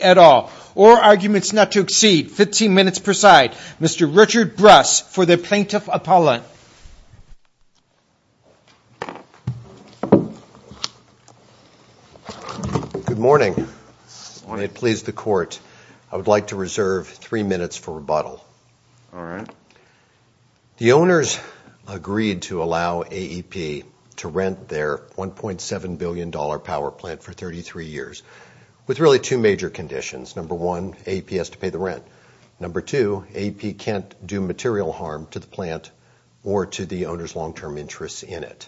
at all or arguments not to exceed 15 minutes per side. Mr. Richard Bruss for the Plaintiff Appellant. Good morning. I want to please the court. I would like to reserve three minutes for rebuttal. All right. The owners agreed to allow AEP to rent their $1.7 billion power plant for 33 years with really two major conditions. Number one, AEP has to pay the rent. Number two, AEP can't do material harm to the plant or to the owner's long-term interests in it.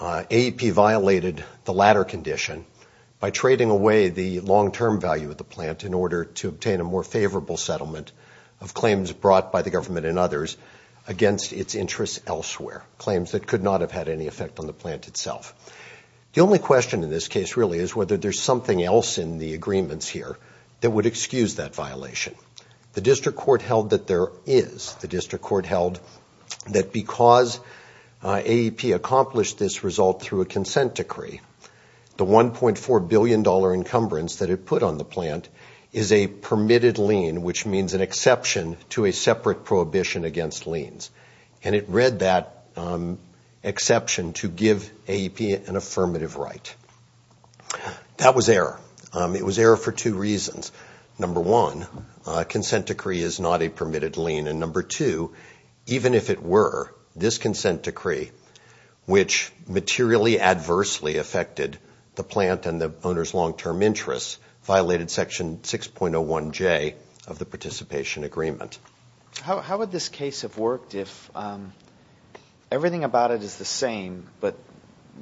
AEP violated the latter condition by trading away the long-term value of the plant in order to obtain a more favorable settlement of claims brought by the government and others against its interests elsewhere, claims that could not have had any effect on the plant itself. The only question in this case really is whether there's something else in the agreements here that would excuse that violation. The district court held that there is. The district court held that because AEP accomplished this result through a consent decree, the $1.4 billion encumbrance that it put on the plant is a permitted lien, which means an exception to a separate prohibition against liens. And it read that exception to give AEP an affirmative right. That was error. It was error for two reasons. Number one, a consent decree is not a permitted lien. And number two, even if it were, this consent decree, which materially adversely affected the plant and the owner's long-term interests, violated Section 6.01J of the participation agreement. How would this case have worked if everything about it is the same but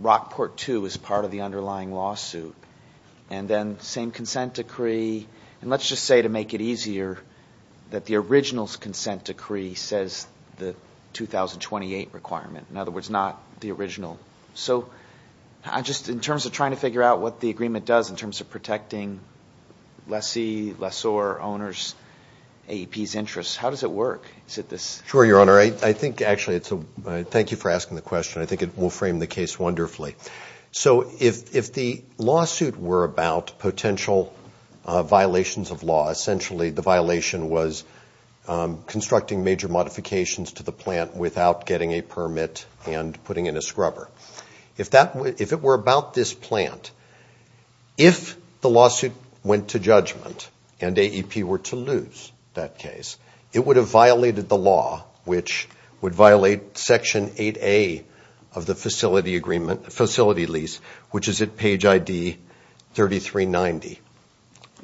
Rockport II is part of the underlying lawsuit and then the same consent decree? And let's just say to make it easier that the original consent decree says the 2028 requirement, in other words, not the original. So just in terms of trying to figure out what the agreement does in terms of protecting lessee, lessor, owner's, AEP's interests, how does it work? Is it this? Sure, Your Honor. I think actually it's a – thank you for asking the question. I think it will frame the case wonderfully. So if the lawsuit were about potential violations of law, essentially the violation was constructing major modifications to the plant without getting a permit and putting in a scrubber. If it were about this plant, if the lawsuit went to judgment and AEP were to lose that case, it would have violated the law, which would violate Section 8A of the facility lease, which is at page ID 3390.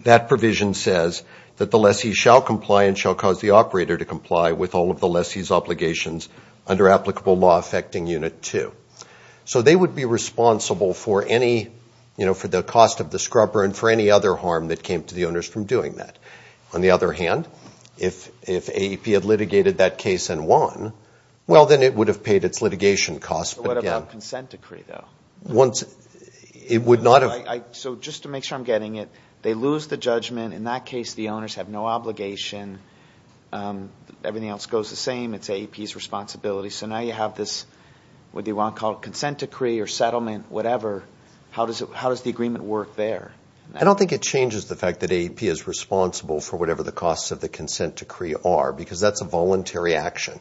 That provision says that the lessee shall comply and shall cause the operator to comply with all of the lessee's obligations under applicable law affecting Unit 2. So they would be responsible for any – for the cost of the scrubber and for any other harm that came to the owners from doing that. On the other hand, if AEP had litigated that case and won, well, then it would have paid its litigation costs. But what about the consent decree, though? It would not have – So just to make sure I'm getting it, they lose the judgment. In that case, the owners have no obligation. Everything else goes the same. It's AEP's responsibility. So now you have this – what do you want to call it – consent decree or settlement, whatever. How does the agreement work there? I don't think it changes the fact that AEP is responsible for whatever the costs of the consent decree are because that's a voluntary action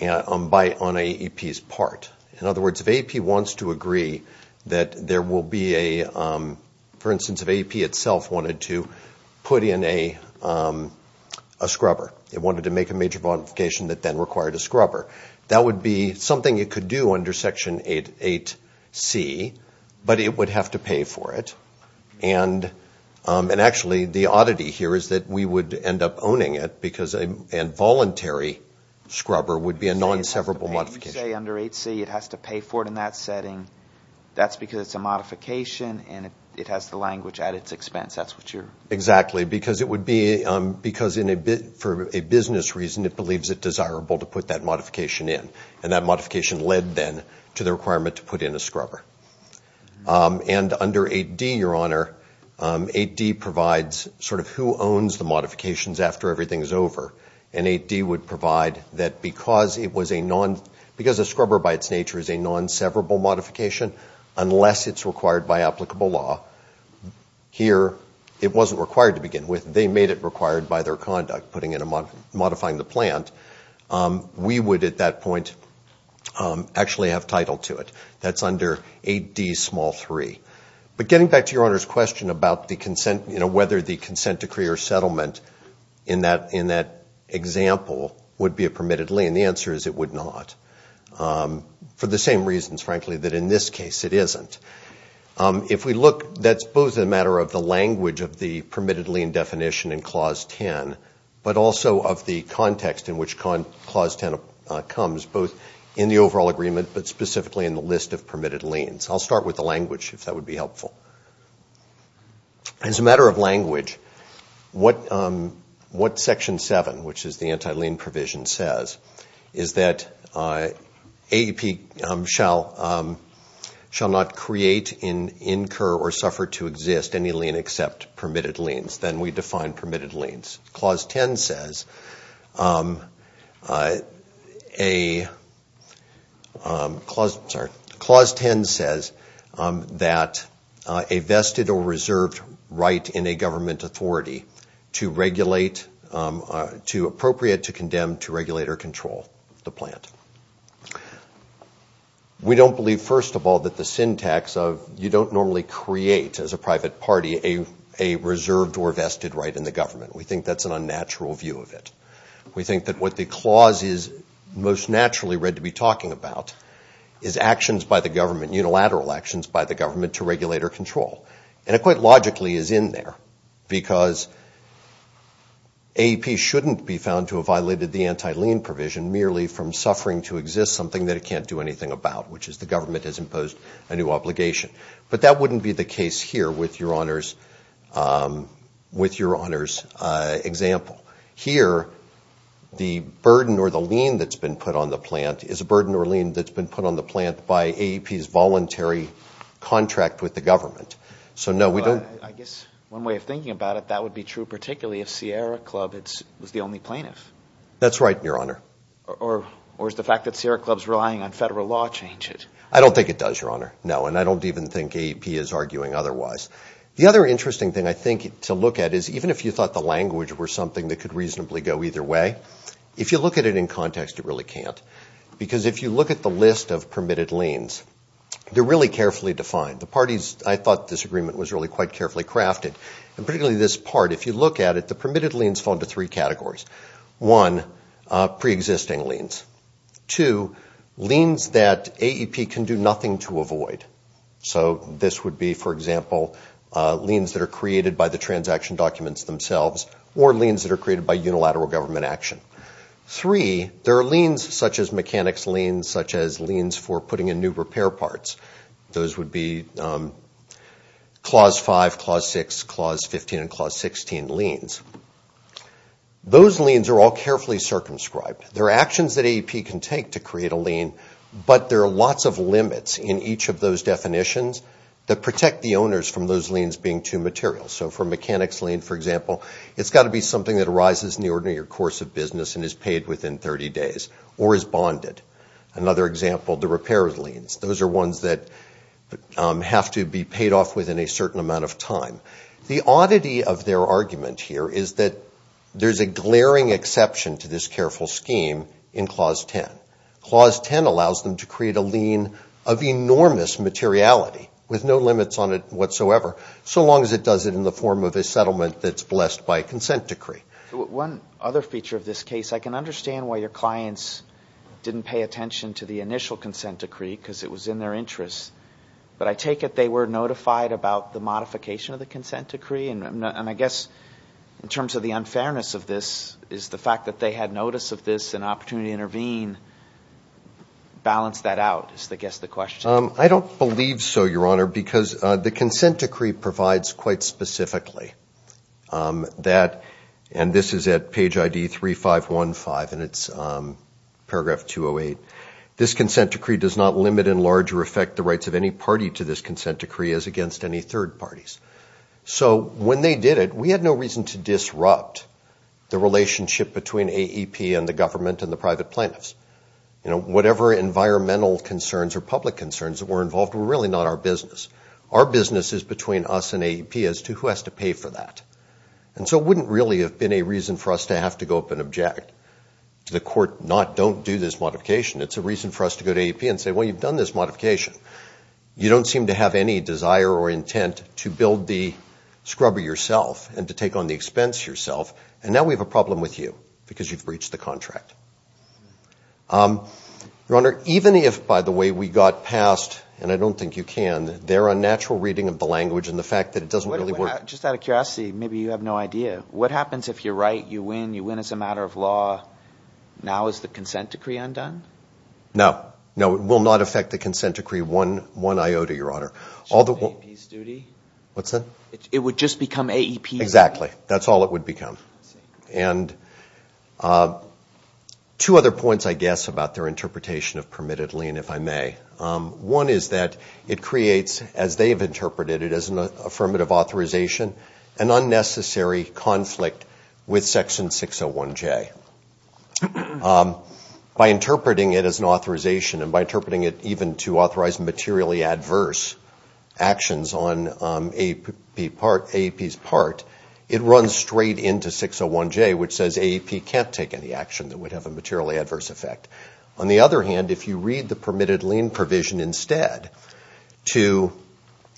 on AEP's part. In other words, if AEP wants to agree that there will be a – for instance, if AEP itself wanted to put in a scrubber, it wanted to make a major modification that then required a scrubber, that would be something it could do under Section 8C, but it would have to pay for it. And actually, the oddity here is that we would end up owning it because a voluntary scrubber would be a non-severable modification. You say under 8C it has to pay for it in that setting. That's because it's a modification and it has the language at its expense. That's what you're – Exactly, because it would be – because for a business reason, it believes it desirable to put that modification in, and that modification led then to the requirement to put in a scrubber. And under 8D, Your Honor, 8D provides sort of who owns the modifications after everything is over, and 8D would provide that because it was a non – because a scrubber by its nature is a non-severable modification, unless it's required by applicable law, here it wasn't required to begin with. They made it required by their conduct, putting in a – modifying the plant. We would at that point actually have title to it. That's under 8D, small 3. But getting back to Your Honor's question about the consent, you know, whether the consent decree or settlement in that example would be a permitted lien, the answer is it would not, for the same reasons, frankly, that in this case it isn't. If we look, that's both a matter of the language of the permitted lien definition in Clause 10, but also of the context in which Clause 10 comes, both in the overall agreement, but specifically in the list of permitted liens. I'll start with the language, if that would be helpful. As a matter of language, what Section 7, which is the anti-lien provision, says, is that AEP shall not create, incur, or suffer to exist any lien except permitted liens. Then we define permitted liens. Clause 10 says that a vested or reserved right in a government authority to regulate – to appropriate, to condemn, to regulate, or control the plant. We don't believe, first of all, that the syntax of you don't normally create, as a private party, a reserved or vested right in the government. We think that's an unnatural view of it. We think that what the clause is most naturally read to be talking about is actions by the government, unilateral actions by the government to regulate or control. And it quite logically is in there because AEP shouldn't be found to have violated the anti-lien provision merely from suffering to exist something that it can't do anything about, which is the government has imposed a new obligation. But that wouldn't be the case here with Your Honor's example. Here, the burden or the lien that's been put on the plant is a burden or lien that's been put on the plant by AEP's voluntary contract with the government. So, no, we don't – But I guess one way of thinking about it, that would be true particularly if Sierra Club was the only plaintiff. That's right, Your Honor. Or is the fact that Sierra Club's relying on federal law change it? I don't think it does, Your Honor. No, and I don't even think AEP is arguing otherwise. The other interesting thing I think to look at is even if you thought the language were something that could reasonably go either way, if you look at it in context, it really can't. Because if you look at the list of permitted liens, they're really carefully defined. The parties – I thought this agreement was really quite carefully crafted. And particularly this part, if you look at it, the permitted liens fall into three categories. One, preexisting liens. Two, liens that AEP can do nothing to avoid. So this would be, for example, liens that are created by the transaction documents themselves or liens that are created by unilateral government action. Three, there are liens such as mechanics liens, such as liens for putting in new repair parts. Those would be Clause 5, Clause 6, Clause 15, and Clause 16 liens. Those liens are all carefully circumscribed. There are actions that AEP can take to create a lien, but there are lots of limits in each of those definitions that protect the owners from those liens being too material. So for mechanics lien, for example, it's got to be something that arises in the ordinary course of business and is paid within 30 days or is bonded. Another example, the repair liens. Those are ones that have to be paid off within a certain amount of time. The oddity of their argument here is that there's a glaring exception to this careful scheme in Clause 10. Clause 10 allows them to create a lien of enormous materiality with no limits on it whatsoever, so long as it does it in the form of a settlement that's blessed by a consent decree. One other feature of this case, I can understand why your clients didn't pay attention to the initial consent decree because it was in their interest, but I take it they were notified about the modification of the consent decree, and I guess in terms of the unfairness of this is the fact that they had notice of this and opportunity to intervene. Balance that out is, I guess, the question. I don't believe so, Your Honor, because the consent decree provides quite specifically that, and this is at page ID 3515 and it's paragraph 208, this consent decree does not limit in large or affect the rights of any party to this consent decree as against any third parties. So when they did it, we had no reason to disrupt the relationship between AEP and the government and the private plaintiffs. Whatever environmental concerns or public concerns that were involved were really not our business. Our business is between us and AEP as to who has to pay for that. And so it wouldn't really have been a reason for us to have to go up and object to the court not don't do this modification. It's a reason for us to go to AEP and say, well, you've done this modification. You don't seem to have any desire or intent to build the scrubber yourself and to take on the expense yourself, and now we have a problem with you because you've breached the contract. Your Honor, even if, by the way, we got past, and I don't think you can, their unnatural reading of the language and the fact that it doesn't really work. Just out of curiosity, maybe you have no idea. What happens if you're right, you win, you win as a matter of law, now is the consent decree undone? No. No, it will not affect the consent decree one iota, Your Honor. Should it be AEP's duty? What's that? It would just become AEP's? Exactly. That's all it would become. And two other points, I guess, about their interpretation of permitted lien, if I may. One is that it creates, as they've interpreted it as an affirmative authorization, an unnecessary conflict with Section 601J. By interpreting it as an authorization and by interpreting it even to authorize materially adverse actions on AEP's part, it runs straight into 601J, which says AEP can't take any action that would have a materially adverse effect. On the other hand, if you read the permitted lien provision instead to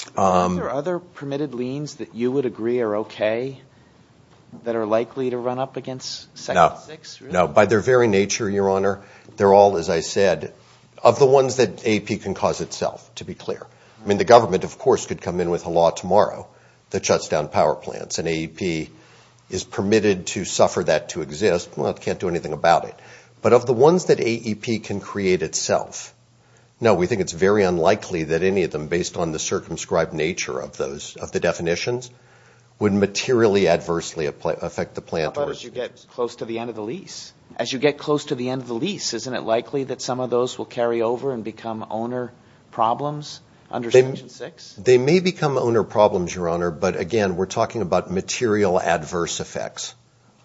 ---- Are there other permitted liens that you would agree are okay, that are likely to run up against Section 6? No. No. By their very nature, Your Honor, they're all, as I said, of the ones that AEP can cause itself, to be clear. I mean, the government, of course, could come in with a law tomorrow that shuts down power plants, and AEP is permitted to suffer that to exist. Well, it can't do anything about it. But of the ones that AEP can create itself, no, we think it's very unlikely that any of them, based on the circumscribed nature of the definitions, would materially adversely affect the plant. How about as you get close to the end of the lease? As you get close to the end of the lease, isn't it likely that some of those will carry over and become owner problems under Section 6? They may become owner problems, Your Honor, but, again, we're talking about material adverse effects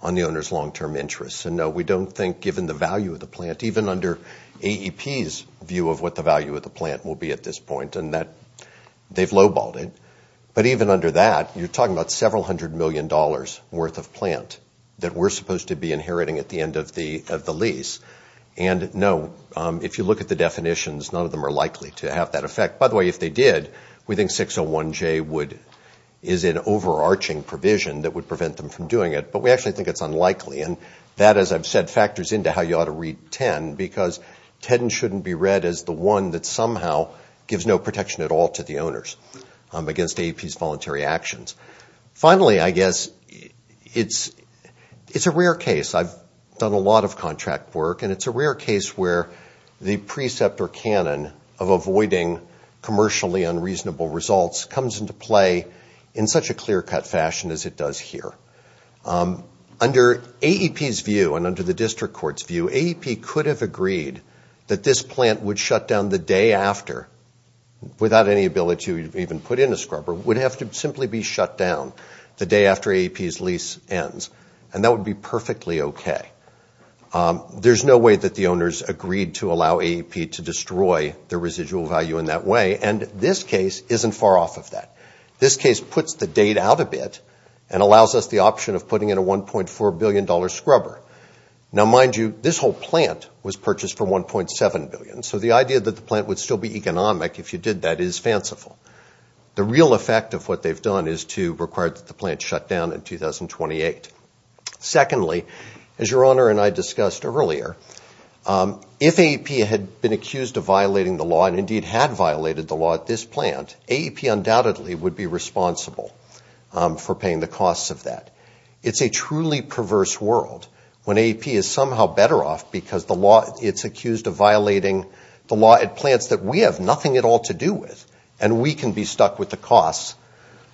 on the owner's long-term interests. And, no, we don't think, given the value of the plant, even under AEP's view of what the value of the plant will be at this point and that they've low-balled it, but even under that, you're talking about several hundred million dollars worth of plant that we're supposed to be inheriting at the end of the lease. And, no, if you look at the definitions, none of them are likely to have that effect. By the way, if they did, we think 601J is an overarching provision that would prevent them from doing it. But we actually think it's unlikely. And that, as I've said, factors into how you ought to read 10, because 10 shouldn't be read as the one that somehow gives no protection at all to the owners against AEP's voluntary actions. Finally, I guess it's a rare case. I've done a lot of contract work, and it's a rare case where the precept or canon of avoiding commercially unreasonable results comes into play in such a clear-cut fashion as it does here. Under AEP's view and under the district court's view, AEP could have agreed that this plant would shut down the day after, without any ability to even put in a scrubber, would have to simply be shut down the day after AEP's lease ends, and that would be perfectly okay. There's no way that the owners agreed to allow AEP to destroy their residual value in that way, and this case isn't far off of that. This case puts the date out a bit and allows us the option of putting in a $1.4 billion scrubber. Now, mind you, this whole plant was purchased for $1.7 billion, so the idea that the plant would still be economic if you did that is fanciful. The real effect of what they've done is to require that the plant shut down in 2028. Secondly, as Your Honor and I discussed earlier, if AEP had been accused of violating the law and indeed had violated the law at this plant, AEP undoubtedly would be responsible for paying the costs of that. It's a truly perverse world when AEP is somehow better off because the law, it's accused of violating the law at plants that we have nothing at all to do with, and we can be stuck with the costs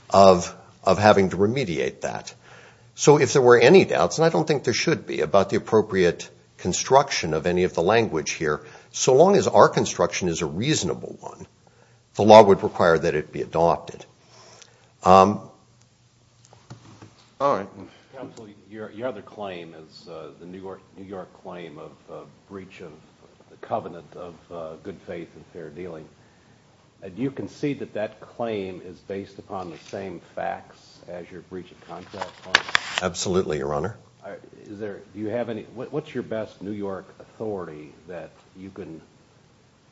of having to remediate that. So if there were any doubts, and I don't think there should be, about the appropriate construction of any of the language here, so long as our construction is a reasonable one, the law would require that it be adopted. All right. Counsel, your other claim is the New York claim of breach of the covenant of good faith and fair dealing. Do you concede that that claim is based upon the same facts as your breach of contract claim? Absolutely, Your Honor. What's your best New York authority that you can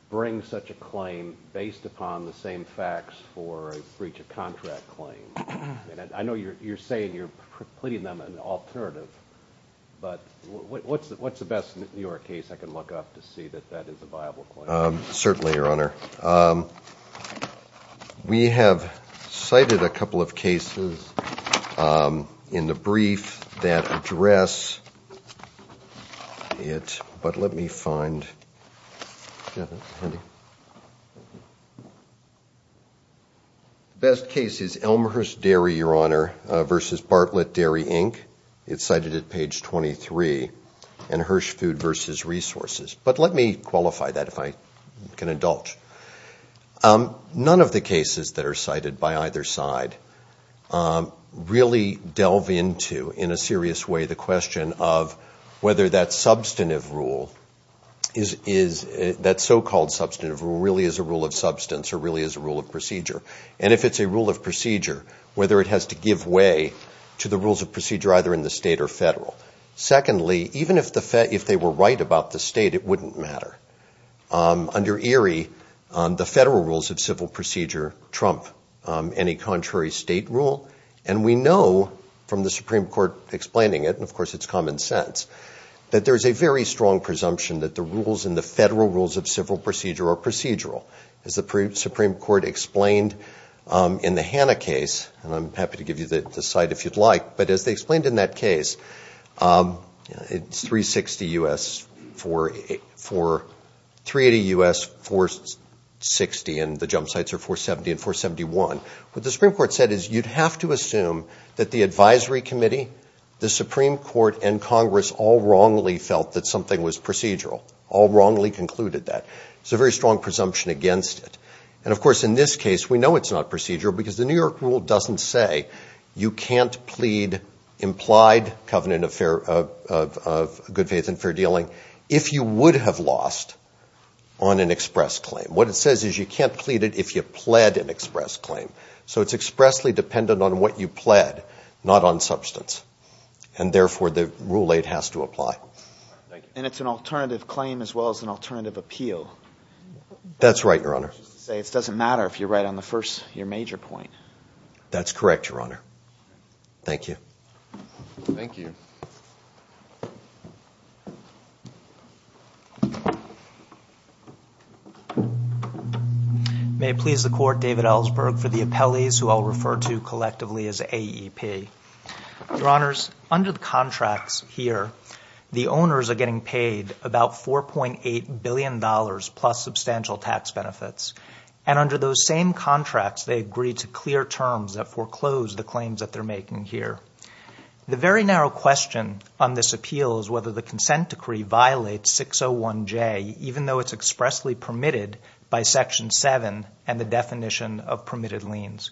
bring such a claim based upon the same facts for a breach of contract claim? I know you're saying you're pleading them an alternative, but what's the best New York case I can look up to see that that is a viable claim? Certainly, Your Honor. We have cited a couple of cases in the brief that address it, but let me find it. The best case is Elmhurst Dairy, Your Honor, versus Bartlett Dairy, Inc. It's cited at page 23, and Hersh Food versus Resources. But let me qualify that, if I can indulge. None of the cases that are cited by either side really delve into, in a serious way, the question of whether that substantive rule, that so-called substantive rule, really is a rule of substance or really is a rule of procedure. And if it's a rule of procedure, whether it has to give way to the rules of procedure either in the state or federal. Secondly, even if they were right about the state, it wouldn't matter. Under Erie, the federal rules of civil procedure trump any contrary state rule. And we know from the Supreme Court explaining it, and of course it's common sense, that there's a very strong presumption that the rules in the federal rules of civil procedure are procedural. As the Supreme Court explained in the Hanna case, and I'm happy to give you the site if you'd like, but as they explained in that case, it's 360 U.S., 480 U.S., 460, and the jump sites are 470 and 471. What the Supreme Court said is you'd have to assume that the advisory committee, the Supreme Court, and Congress all wrongly felt that something was procedural, all wrongly concluded that. There's a very strong presumption against it. And, of course, in this case, we know it's not procedural because the New York rule doesn't say you can't plead implied covenant of good faith and fair dealing if you would have lost on an express claim. What it says is you can't plead it if you pled an express claim. So it's expressly dependent on what you pled, not on substance. And, therefore, the Rule 8 has to apply. And it's an alternative claim as well as an alternative appeal. That's right, Your Honor. It doesn't matter if you're right on the first, your major point. That's correct, Your Honor. Thank you. Thank you. May it please the Court, David Ellsberg for the appellees who I'll refer to collectively as AEP. Your Honors, under the contracts here, the owners are getting paid about $4.8 billion plus substantial tax benefits. And under those same contracts, they agree to clear terms that foreclose the claims that they're making here. The very narrow question on this appeal is whether the consent decree violates 601J, even though it's expressly permitted by Section 7 and the definition of permitted liens.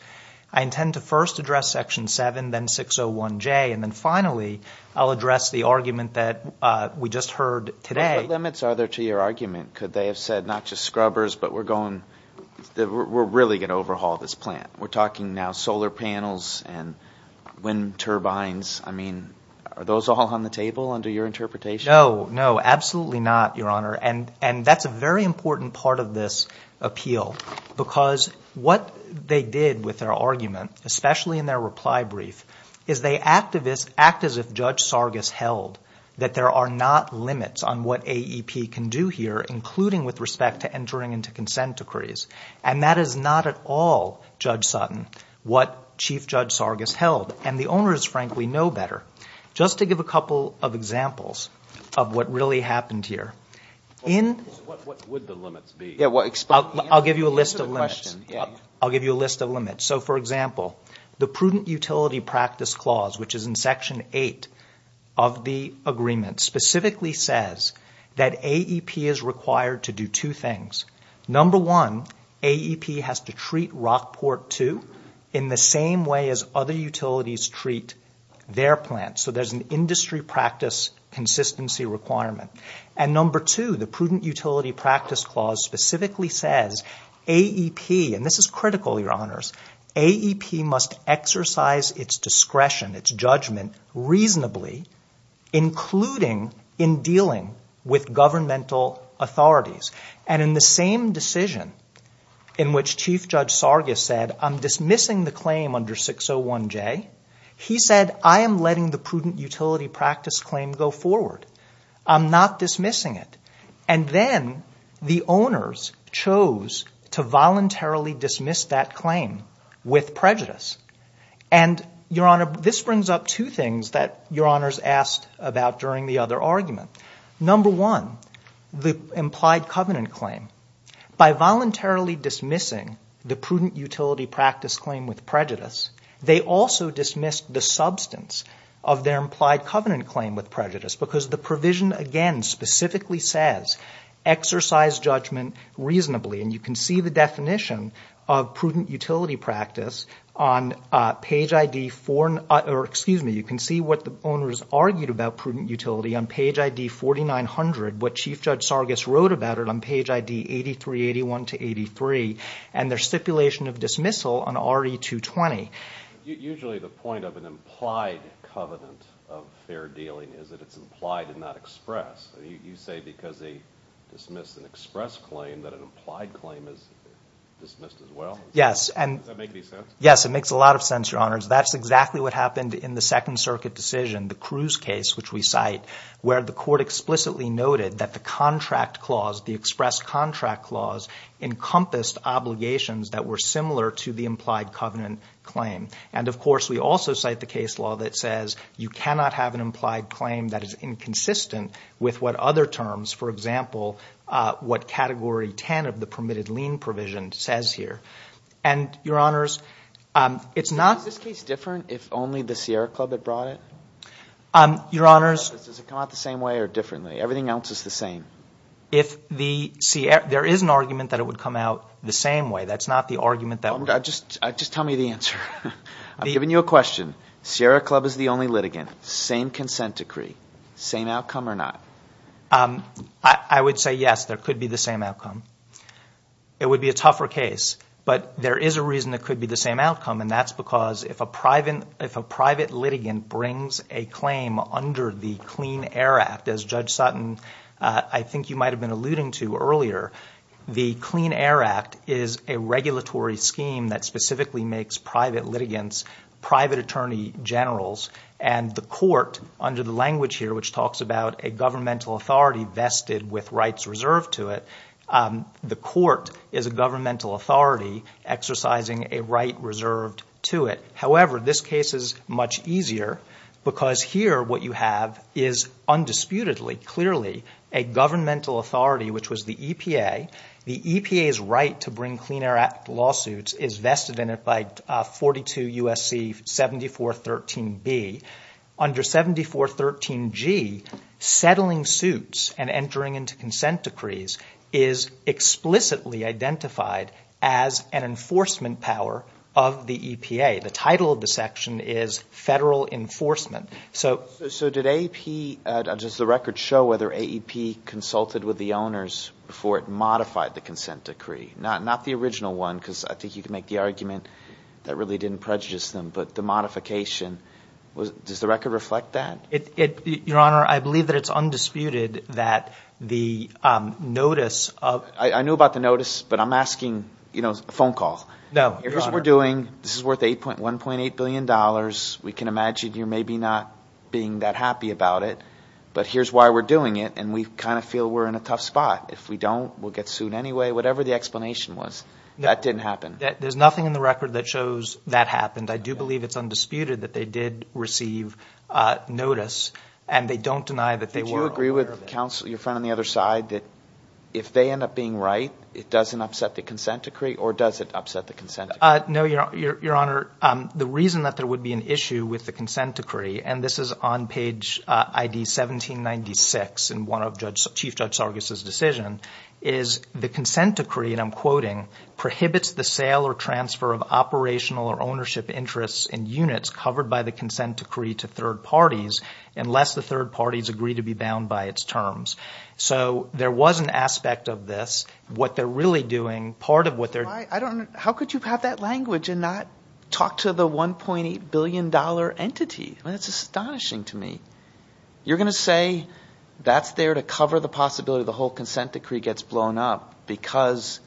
I intend to first address Section 7, then 601J, and then, finally, I'll address the argument that we just heard today. What limits are there to your argument? Could they have said not just scrubbers, but we're really going to overhaul this plant? We're talking now solar panels and wind turbines. I mean, are those all on the table under your interpretation? No, no, absolutely not, Your Honor. And that's a very important part of this appeal because what they did with their argument, especially in their reply brief, is they act as if Judge Sargas held that there are not limits on what AEP can do here, including with respect to entering into consent decrees. And that is not at all, Judge Sutton, what Chief Judge Sargas held. And the owners, frankly, know better. Just to give a couple of examples of what really happened here. What would the limits be? I'll give you a list of limits. I'll give you a list of limits. So, for example, the prudent utility practice clause, which is in Section 8 of the agreement, specifically says that AEP is required to do two things. Number one, AEP has to treat Rockport, too, in the same way as other utilities treat their plants. So there's an industry practice consistency requirement. And number two, the prudent utility practice clause specifically says AEP, and this is critical, Your Honors, AEP must exercise its discretion, its judgment reasonably, including in dealing with governmental authorities. And in the same decision in which Chief Judge Sargas said, I'm dismissing the claim under 601J, he said, I am letting the prudent utility practice claim go forward. I'm not dismissing it. And then the owners chose to voluntarily dismiss that claim with prejudice. And, Your Honor, this brings up two things that Your Honors asked about during the other argument. Number one, the implied covenant claim. By voluntarily dismissing the prudent utility practice claim with prejudice, they also dismissed the substance of their implied covenant claim with prejudice, because the provision, again, specifically says exercise judgment reasonably. And you can see the definition of prudent utility practice on page ID 4. You can see what the owners argued about prudent utility on page ID 4900, what Chief Judge Sargas wrote about it on page ID 8381 to 83, and their stipulation of dismissal on RE220. Usually the point of an implied covenant of fair dealing is that it's implied and not expressed. You say because they dismiss an express claim that an implied claim is dismissed as well? Yes. Does that make any sense? Yes, it makes a lot of sense, Your Honors. That's exactly what happened in the Second Circuit decision, the Cruz case, which we cite, where the court explicitly noted that the contract clause, the express contract clause, encompassed obligations that were similar to the implied covenant claim. And, of course, we also cite the case law that says you cannot have an implied claim that is inconsistent with what other terms, for example, what Category 10 of the permitted lien provision says here. And, Your Honors, it's not – Is this case different if only the Sierra Club had brought it? Your Honors – Does it come out the same way or differently? Everything else is the same. If the – there is an argument that it would come out the same way. That's not the argument that – Just tell me the answer. I'm giving you a question. Sierra Club is the only litigant. Same consent decree. Same outcome or not? I would say yes, there could be the same outcome. It would be a tougher case, but there is a reason it could be the same outcome, and that's because if a private litigant brings a claim under the Clean Air Act, as Judge Sutton, I think you might have been alluding to earlier, the Clean Air Act is a regulatory scheme that specifically makes private litigants private attorney generals, and the court, under the language here, which talks about a governmental authority vested with rights reserved to it, the court is a governmental authority exercising a right reserved to it. However, this case is much easier because here what you have is undisputedly, clearly, a governmental authority, which was the EPA. The EPA's right to bring Clean Air Act lawsuits is vested in it by 42 U.S.C. 7413B. Under 7413G, settling suits and entering into consent decrees is explicitly identified as an enforcement power of the EPA. The title of the section is Federal Enforcement. So does the record show whether AEP consulted with the owners before it modified the consent decree? Not the original one because I think you can make the argument that really didn't prejudice them, but the modification. Does the record reflect that? Your Honor, I believe that it's undisputed that the notice of – I knew about the notice, but I'm asking a phone call. No, Your Honor. Here's what we're doing. This is worth $1.8 billion. We can imagine you maybe not being that happy about it, but here's why we're doing it, and we kind of feel we're in a tough spot. If we don't, we'll get sued anyway, whatever the explanation was. That didn't happen. There's nothing in the record that shows that happened. I do believe it's undisputed that they did receive notice, and they don't deny that they were aware of it. Did you agree with your friend on the other side that if they end up being right, it doesn't upset the consent decree, or does it upset the consent decree? No, Your Honor. The reason that there would be an issue with the consent decree, and this is on page ID 1796 in one of Chief Judge Sargis' decisions, is the consent decree, and I'm quoting, prohibits the sale or transfer of operational or ownership interests in units covered by the consent decree to third parties unless the third parties agree to be bound by its terms. So there was an aspect of this. What they're really doing, part of what they're – I don't know. How could you have that language and not talk to the $1.8 billion entity? That's astonishing to me. You're going to say that's there to cover the possibility the whole consent decree gets blown up because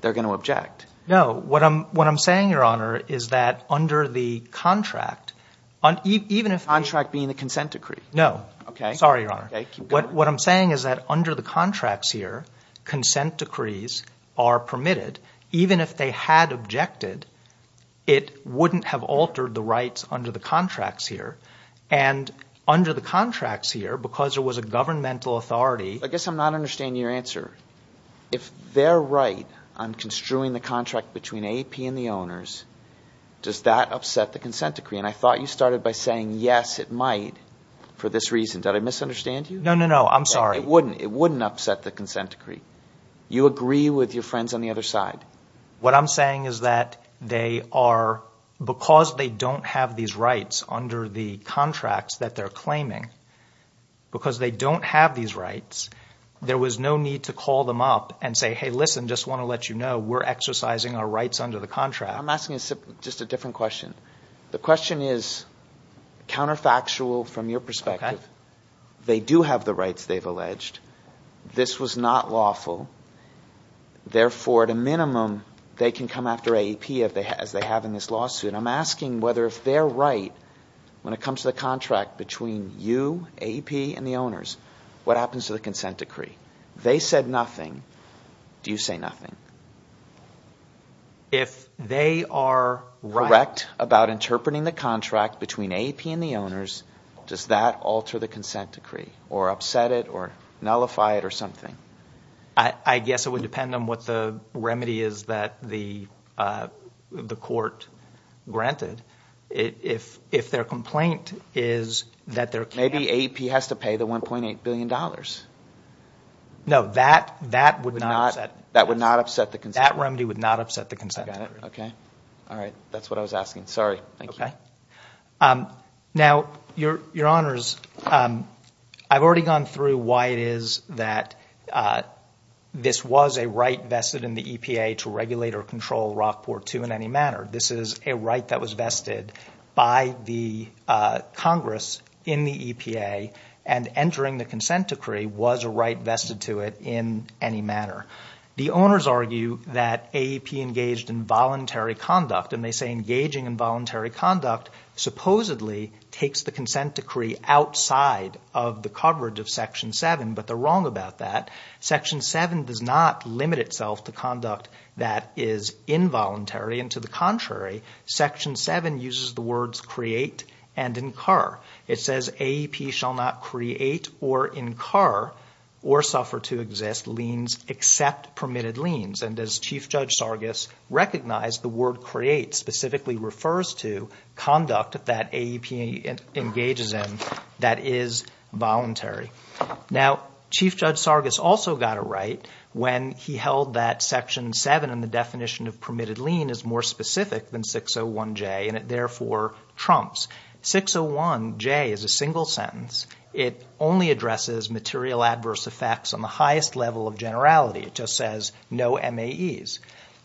they're going to object. No. What I'm saying, Your Honor, is that under the contract, even if – Contract being the consent decree. No. Okay. Sorry, Your Honor. What I'm saying is that under the contracts here, consent decrees are permitted. Even if they had objected, it wouldn't have altered the rights under the contracts here. And under the contracts here, because there was a governmental authority – I guess I'm not understanding your answer. If they're right on construing the contract between AAP and the owners, does that upset the consent decree? And I thought you started by saying, yes, it might for this reason. Did I misunderstand you? No, no, no. I'm sorry. It wouldn't. It wouldn't upset the consent decree. You agree with your friends on the other side. What I'm saying is that they are – because they don't have these rights under the contracts that they're claiming, because they don't have these rights, there was no need to call them up and say, hey, listen, just want to let you know we're exercising our rights under the contract. I'm asking just a different question. The question is counterfactual from your perspective. They do have the rights they've alleged. This was not lawful. Therefore, at a minimum, they can come after AAP as they have in this lawsuit. I'm asking whether if they're right when it comes to the contract between you, AAP, and the owners, what happens to the consent decree? They said nothing. Do you say nothing? If they are right about interpreting the contract between AAP and the owners, does that alter the consent decree or upset it or nullify it or something? I guess it would depend on what the remedy is that the court granted. If their complaint is that there can't – Maybe AAP has to pay the $1.8 billion. No, that would not upset them. That remedy would not upset the consent decree. Okay. All right. That's what I was asking. Sorry. Thank you. Now, your honors, I've already gone through why it is that this was a right vested in the EPA to regulate or control Rockport II in any manner. This is a right that was vested by the Congress in the EPA, and entering the consent decree was a right vested to it in any manner. The owners argue that AAP engaged in voluntary conduct, and they say engaging in voluntary conduct supposedly takes the consent decree outside of the coverage of Section 7, but they're wrong about that. Section 7 does not limit itself to conduct that is involuntary, and to the contrary, Section 7 uses the words create and incur. It says AAP shall not create or incur or suffer to exist liens except permitted liens, and as Chief Judge Sargis recognized, the word create specifically refers to conduct that AAP engages in that is voluntary. Now, Chief Judge Sargis also got it right when he held that Section 7 and the definition of permitted lien is more specific than 601J, and it therefore trumps. 601J is a single sentence. It only addresses material adverse effects on the highest level of generality. It just says no MAEs.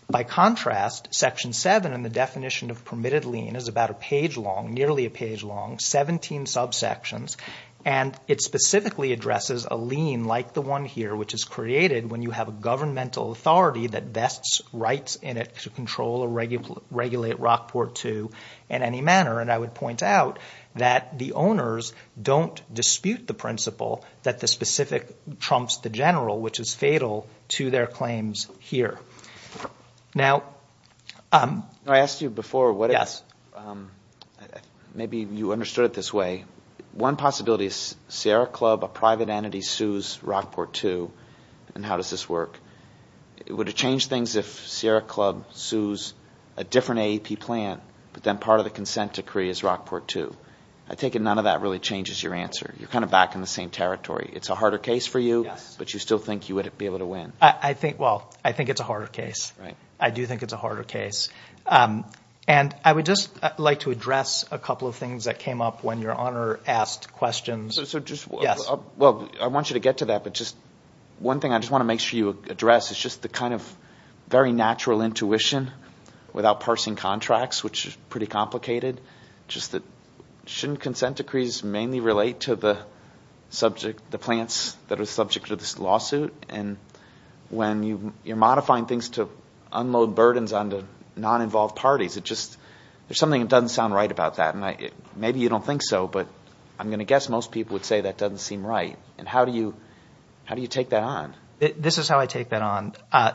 By contrast, Section 7 and the definition of permitted lien is about a page long, nearly a page long, 17 subsections, and it specifically addresses a lien like the one here, which is created when you have a governmental authority that vests rights in it to control or regulate Rockport II in any manner, and I would point out that the owners don't dispute the principle that the specific trumps the general, which is fatal to their claims here. Now – I asked you before what is – maybe you understood it this way. One possibility is Sierra Club, a private entity, sues Rockport II, and how does this work? Would it change things if Sierra Club sues a different AAP plant, but then part of the consent decree is Rockport II? I take it none of that really changes your answer. You're kind of back in the same territory. It's a harder case for you, but you still think you would be able to win. I think – well, I think it's a harder case. Right. I do think it's a harder case, and I would just like to address a couple of things that came up when your honor asked questions. So just – Yes. Well, I want you to get to that, but just – one thing I just want to make sure you address is just the kind of very natural intuition without parsing contracts, which is pretty complicated, just that shouldn't consent decrees mainly relate to the subject – the plants that are subject to this lawsuit? And when you're modifying things to unload burdens onto non-involved parties, it just – there's something that doesn't sound right about that, and maybe you don't think so, but I'm going to guess most people would say that doesn't seem right. And how do you take that on? This is how I take that on.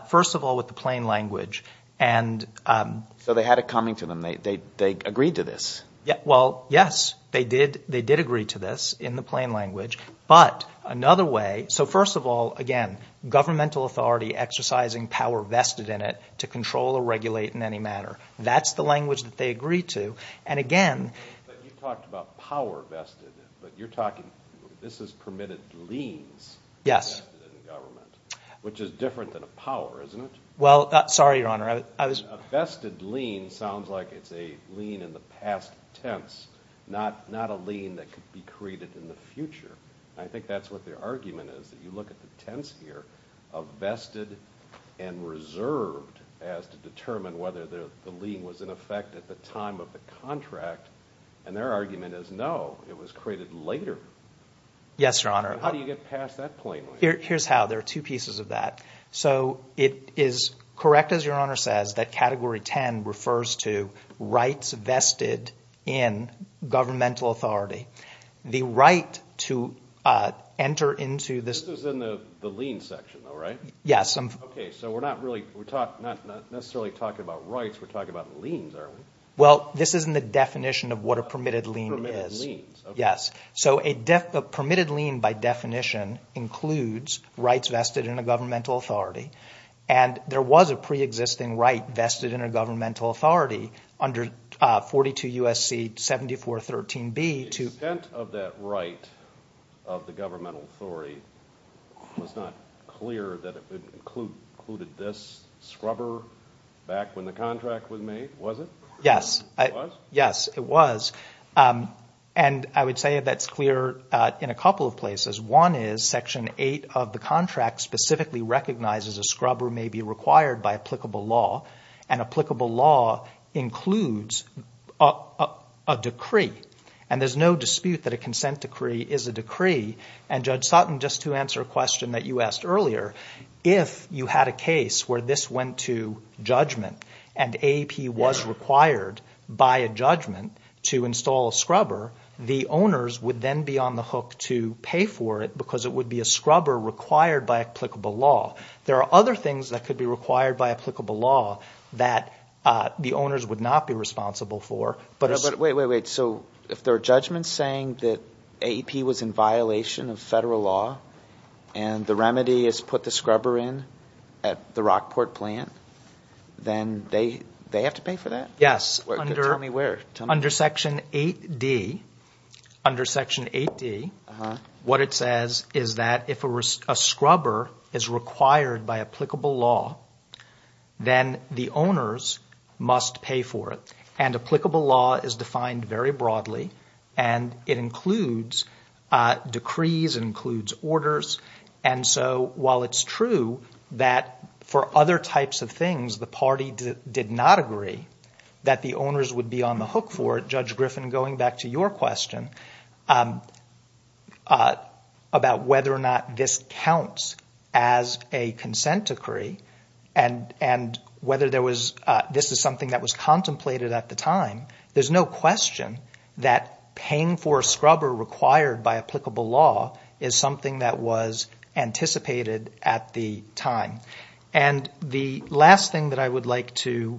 First of all, with the plain language. So they had it coming to them. They agreed to this. Well, yes. They did agree to this in the plain language. But another way – so first of all, again, governmental authority exercising power vested in it to control or regulate in any manner. That's the language that they agreed to. And again – But you talked about power vested in it, but you're talking – this is permitted liens vested in government. Yes. Which is different than a power, isn't it? Well, sorry, Your Honor. A vested lien sounds like it's a lien in the past tense, not a lien that could be created in the future. I think that's what their argument is, that you look at the tense here of vested and reserved as to determine whether the lien was in effect at the time of the contract. And their argument is no, it was created later. Yes, Your Honor. How do you get past that point? Here's how. There are two pieces of that. So it is correct, as Your Honor says, that Category 10 refers to rights vested in governmental authority. The right to enter into this – This is in the lien section, though, right? Yes. Okay. So we're not really – we're not necessarily talking about rights. We're talking about liens, are we? Well, this is in the definition of what a permitted lien is. Permitted liens. Yes. So a permitted lien, by definition, includes rights vested in a governmental authority. And there was a preexisting right vested in a governmental authority under 42 U.S.C. 7413B to – The extent of that right of the governmental authority was not clear that it included this scrubber back when the contract was made, was it? Yes. It was? Yes, it was. And I would say that's clear in a couple of places. One is Section 8 of the contract specifically recognizes a scrubber may be required by applicable law, and applicable law includes a decree. And there's no dispute that a consent decree is a decree. And, Judge Sutton, just to answer a question that you asked earlier, if you had a case where this went to judgment and AAP was required by a judgment to install a scrubber, the owners would then be on the hook to pay for it because it would be a scrubber required by applicable law. There are other things that could be required by applicable law that the owners would not be responsible for. Wait, wait, wait. So if there are judgments saying that AAP was in violation of federal law and the remedy is put the scrubber in at the Rockport plant, then they have to pay for that? Yes. Tell me where. Under Section 8D, what it says is that if a scrubber is required by applicable law, then the owners must pay for it. And applicable law is defined very broadly, and it includes decrees, it includes orders. And so while it's true that for other types of things the party did not agree that the owners would be on the hook for it, Judge Griffin, going back to your question, about whether or not this counts as a consent decree and whether this is something that was contemplated at the time, there's no question that paying for a scrubber required by applicable law is something that was anticipated at the time. And the last thing that I would like to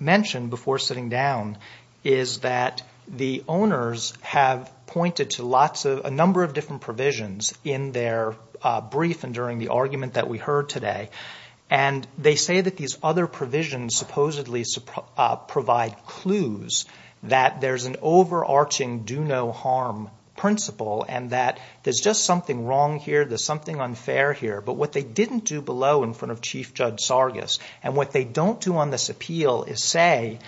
mention before sitting down is that the owners have pointed to lots of – a number of different provisions in their brief and during the argument that we heard today. And they say that these other provisions supposedly provide clues that there's an overarching do-no-harm principle and that there's just something wrong here, there's something unfair here. But what they didn't do below in front of Chief Judge Sargas, and what they don't do on this appeal, is say,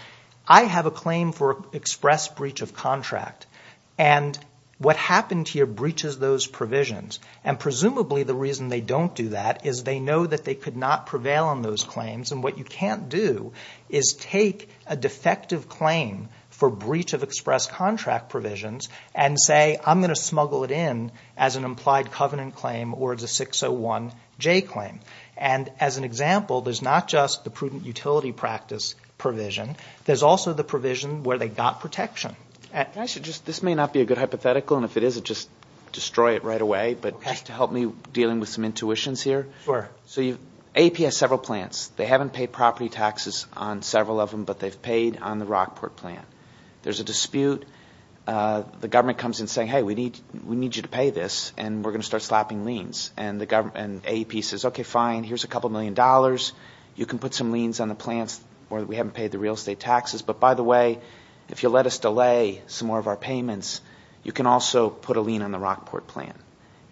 I have a claim for express breach of contract, and what happened here breaches those provisions. And presumably the reason they don't do that is they know that they could not prevail on those claims. And what you can't do is take a defective claim for breach of express contract provisions and say, I'm going to smuggle it in as an implied covenant claim or as a 601J claim. And as an example, there's not just the prudent utility practice provision. There's also the provision where they got protection. This may not be a good hypothetical, and if it is, just destroy it right away. But just to help me dealing with some intuitions here. Sure. So AAP has several plants. They haven't paid property taxes on several of them, but they've paid on the Rockport plant. There's a dispute. The government comes in saying, hey, we need you to pay this, and we're going to start slapping liens. And AAP says, okay, fine, here's a couple million dollars. You can put some liens on the plants where we haven't paid the real estate taxes. But, by the way, if you let us delay some more of our payments, you can also put a lien on the Rockport plant.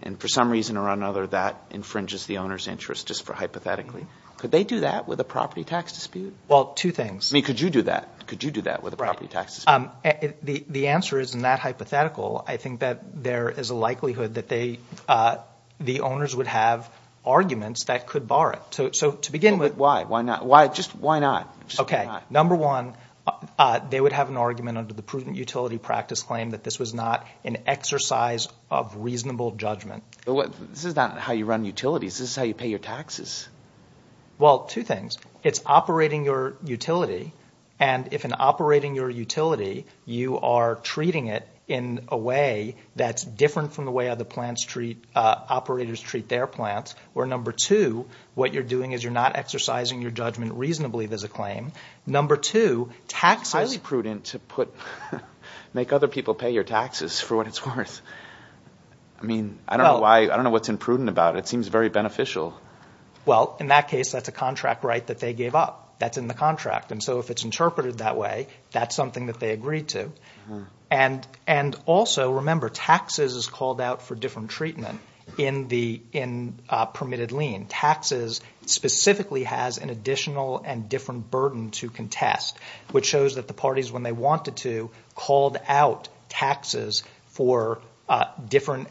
And for some reason or another, that infringes the owner's interest just hypothetically. Could they do that with a property tax dispute? Well, two things. I mean, could you do that? Could you do that with a property tax dispute? The answer is not hypothetical. I think that there is a likelihood that the owners would have arguments that could bar it. So to begin with. Why? Why not? Just why not? Okay. Number one, they would have an argument under the prudent utility practice claim that this was not an exercise of reasonable judgment. This is not how you run utilities. This is how you pay your taxes. Well, two things. It's operating your utility. And if in operating your utility you are treating it in a way that's different from the way other plant operators treat their plants, where number two, what you're doing is you're not exercising your judgment reasonably, there's a claim. Number two, taxes. It's highly prudent to make other people pay your taxes for what it's worth. I mean, I don't know why. I don't know what's imprudent about it. It seems very beneficial. Well, in that case, that's a contract right that they gave up. That's in the contract. And so if it's interpreted that way, that's something that they agreed to. And also, remember, taxes is called out for different treatment in permitted lien. Taxes specifically has an additional and different burden to contest, which shows that the parties, when they wanted to, called out taxes for different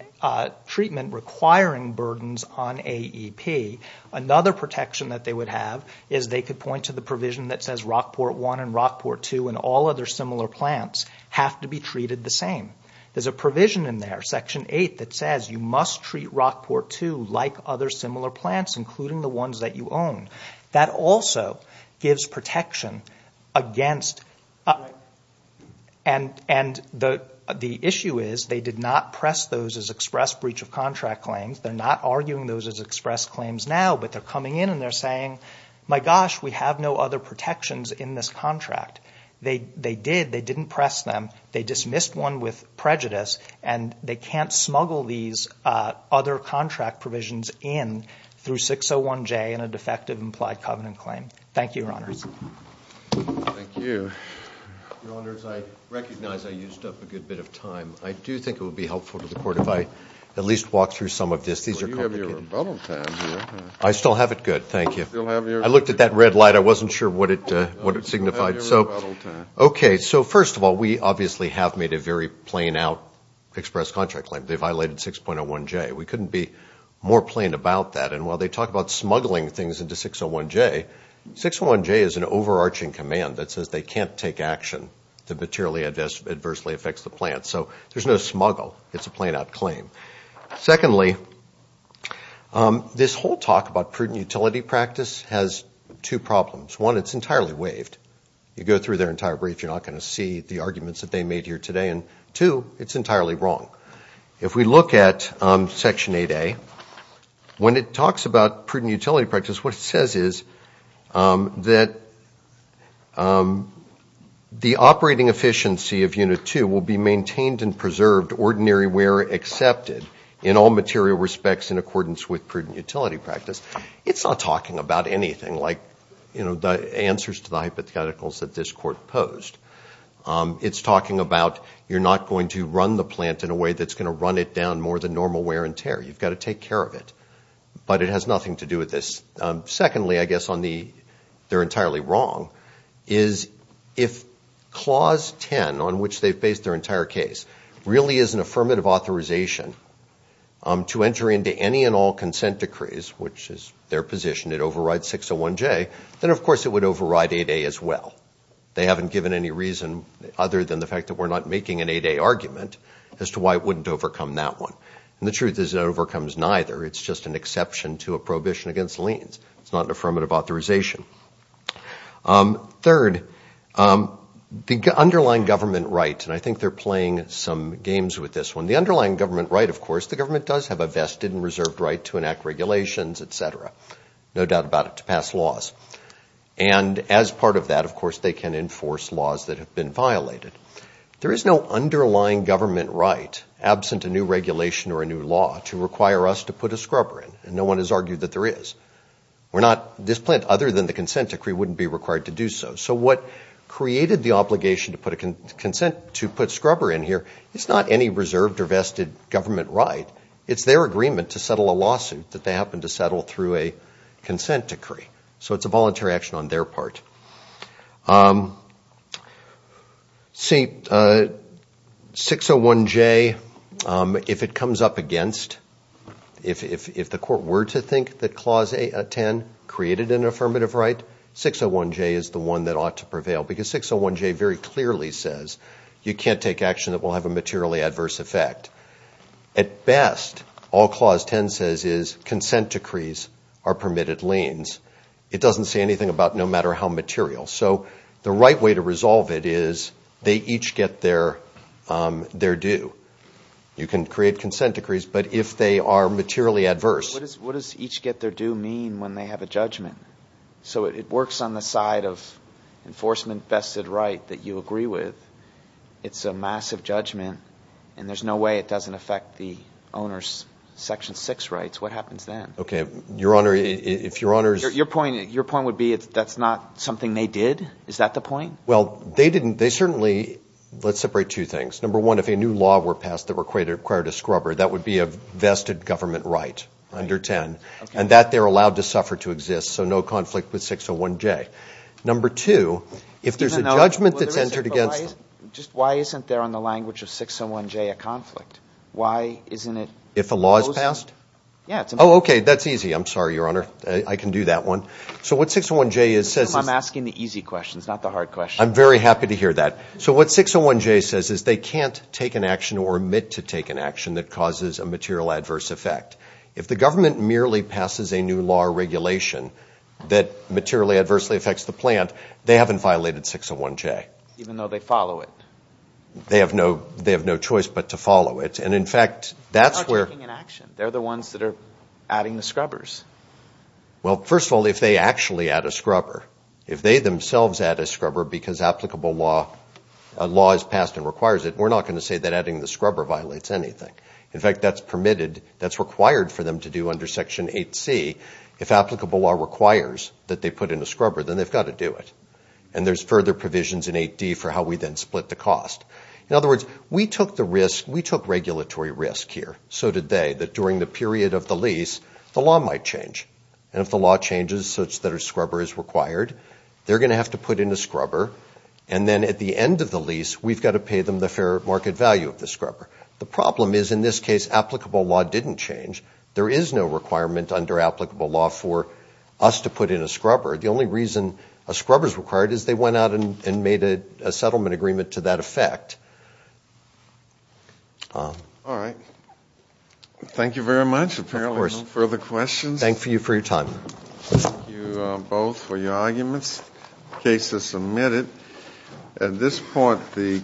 treatment requiring burdens on AEP. Another protection that they would have is they could point to the provision that says Rockport 1 and Rockport 2 and all other similar plants have to be treated the same. There's a provision in there, Section 8, that says you must treat Rockport 2 like other similar plants, including the ones that you own. That also gives protection against – and the issue is they did not press those as express breach of contract claims. They're not arguing those as express claims now, but they're coming in and they're saying, my gosh, we have no other protections in this contract. They did. They didn't press them. They dismissed one with prejudice. And they can't smuggle these other contract provisions in through 601J in a defective implied covenant claim. Thank you, Your Honors. Thank you. Your Honors, I recognize I used up a good bit of time. I do think it would be helpful to the Court if I at least walk through some of this. These are complicated. You have your rebuttal time here. I still have it good. Thank you. I looked at that red light. I wasn't sure what it signified. Okay, so first of all, we obviously have made a very plain out express contract claim. They violated 6.01J. We couldn't be more plain about that. And while they talk about smuggling things into 601J, 601J is an overarching command that says they can't take action that materially adversely affects the plant. So there's no smuggle. It's a plain out claim. Secondly, this whole talk about prudent utility practice has two problems. One, it's entirely waived. You go through their entire brief, you're not going to see the arguments that they made here today. And two, it's entirely wrong. If we look at Section 8A, when it talks about prudent utility practice, what it says is that the operating efficiency of Unit 2 will be maintained and preserved ordinary where accepted in all material respects in accordance with prudent utility practice. It's not talking about anything like, you know, the answers to the hypotheticals that this Court posed. It's talking about you're not going to run the plant in a way that's going to run it down more than normal wear and tear. You've got to take care of it. But it has nothing to do with this. Secondly, I guess on the they're entirely wrong, is if Clause 10, on which they've based their entire case, really is an affirmative authorization to enter into any and all consent decrees, which is their position, it overrides 601J, then of course it would override 8A as well. They haven't given any reason other than the fact that we're not making an 8A argument as to why it wouldn't overcome that one. And the truth is it overcomes neither. It's just an exception to a prohibition against liens. It's not an affirmative authorization. Third, the underlying government right, and I think they're playing some games with this one. The underlying government right, of course, the government does have a vested and reserved right to enact regulations, et cetera, no doubt about it, to pass laws. And as part of that, of course, they can enforce laws that have been violated. There is no underlying government right, absent a new regulation or a new law, to require us to put a scrubber in, and no one has argued that there is. This plant, other than the consent decree, wouldn't be required to do so. So what created the obligation to put a scrubber in here is not any reserved or vested government right. It's their agreement to settle a lawsuit that they happened to settle through a consent decree. So it's a voluntary action on their part. See, 601J, if it comes up against, if the court were to think that Clause 10 created an affirmative right, 601J is the one that ought to prevail because 601J very clearly says, you can't take action that will have a materially adverse effect. At best, all Clause 10 says is consent decrees are permitted liens. It doesn't say anything about no matter how material. So the right way to resolve it is they each get their due. You can create consent decrees, but if they are materially adverse. What does each get their due mean when they have a judgment? So it works on the side of enforcement vested right that you agree with. It's a massive judgment, and there's no way it doesn't affect the owner's Section 6 rights. What happens then? Okay. Your Honor, if Your Honor's. Your point would be that's not something they did? Is that the point? Well, they didn't. They certainly. Let's separate two things. Number one, if a new law were passed that required a scrubber, that would be a vested government right under 10. And that they're allowed to suffer to exist. So no conflict with 601J. Number two, if there's a judgment that's entered against them. Just why isn't there on the language of 601J a conflict? Why isn't it? If a law is passed? Yeah. Oh, okay. That's easy. I'm sorry, Your Honor. I can do that one. So what 601J says. I'm asking the easy questions, not the hard questions. I'm very happy to hear that. So what 601J says is they can't take an action or admit to take an action that causes a material adverse effect. If the government merely passes a new law or regulation that materially adversely affects the plant, they haven't violated 601J. Even though they follow it. They have no choice but to follow it. And, in fact, that's where... They're not taking an action. They're the ones that are adding the scrubbers. Well, first of all, if they actually add a scrubber, if they themselves add a scrubber because applicable law is passed and requires it, we're not going to say that adding the scrubber violates anything. In fact, that's permitted. That's required for them to do under Section 8C. If applicable law requires that they put in a scrubber, then they've got to do it. And there's further provisions in 8D for how we then split the cost. In other words, we took the risk... We took regulatory risk here. So did they. That during the period of the lease, the law might change. And if the law changes such that a scrubber is required, they're going to have to put in a scrubber. And then at the end of the lease, we've got to pay them the fair market value of the scrubber. The problem is, in this case, applicable law didn't change. There is no requirement under applicable law for us to put in a scrubber. The only reason a scrubber is required is they went out and made a settlement agreement to that effect. All right. Thank you very much. Of course. If there are no further questions. Thank you for your time. Thank you both for your arguments. The case is submitted. At this point...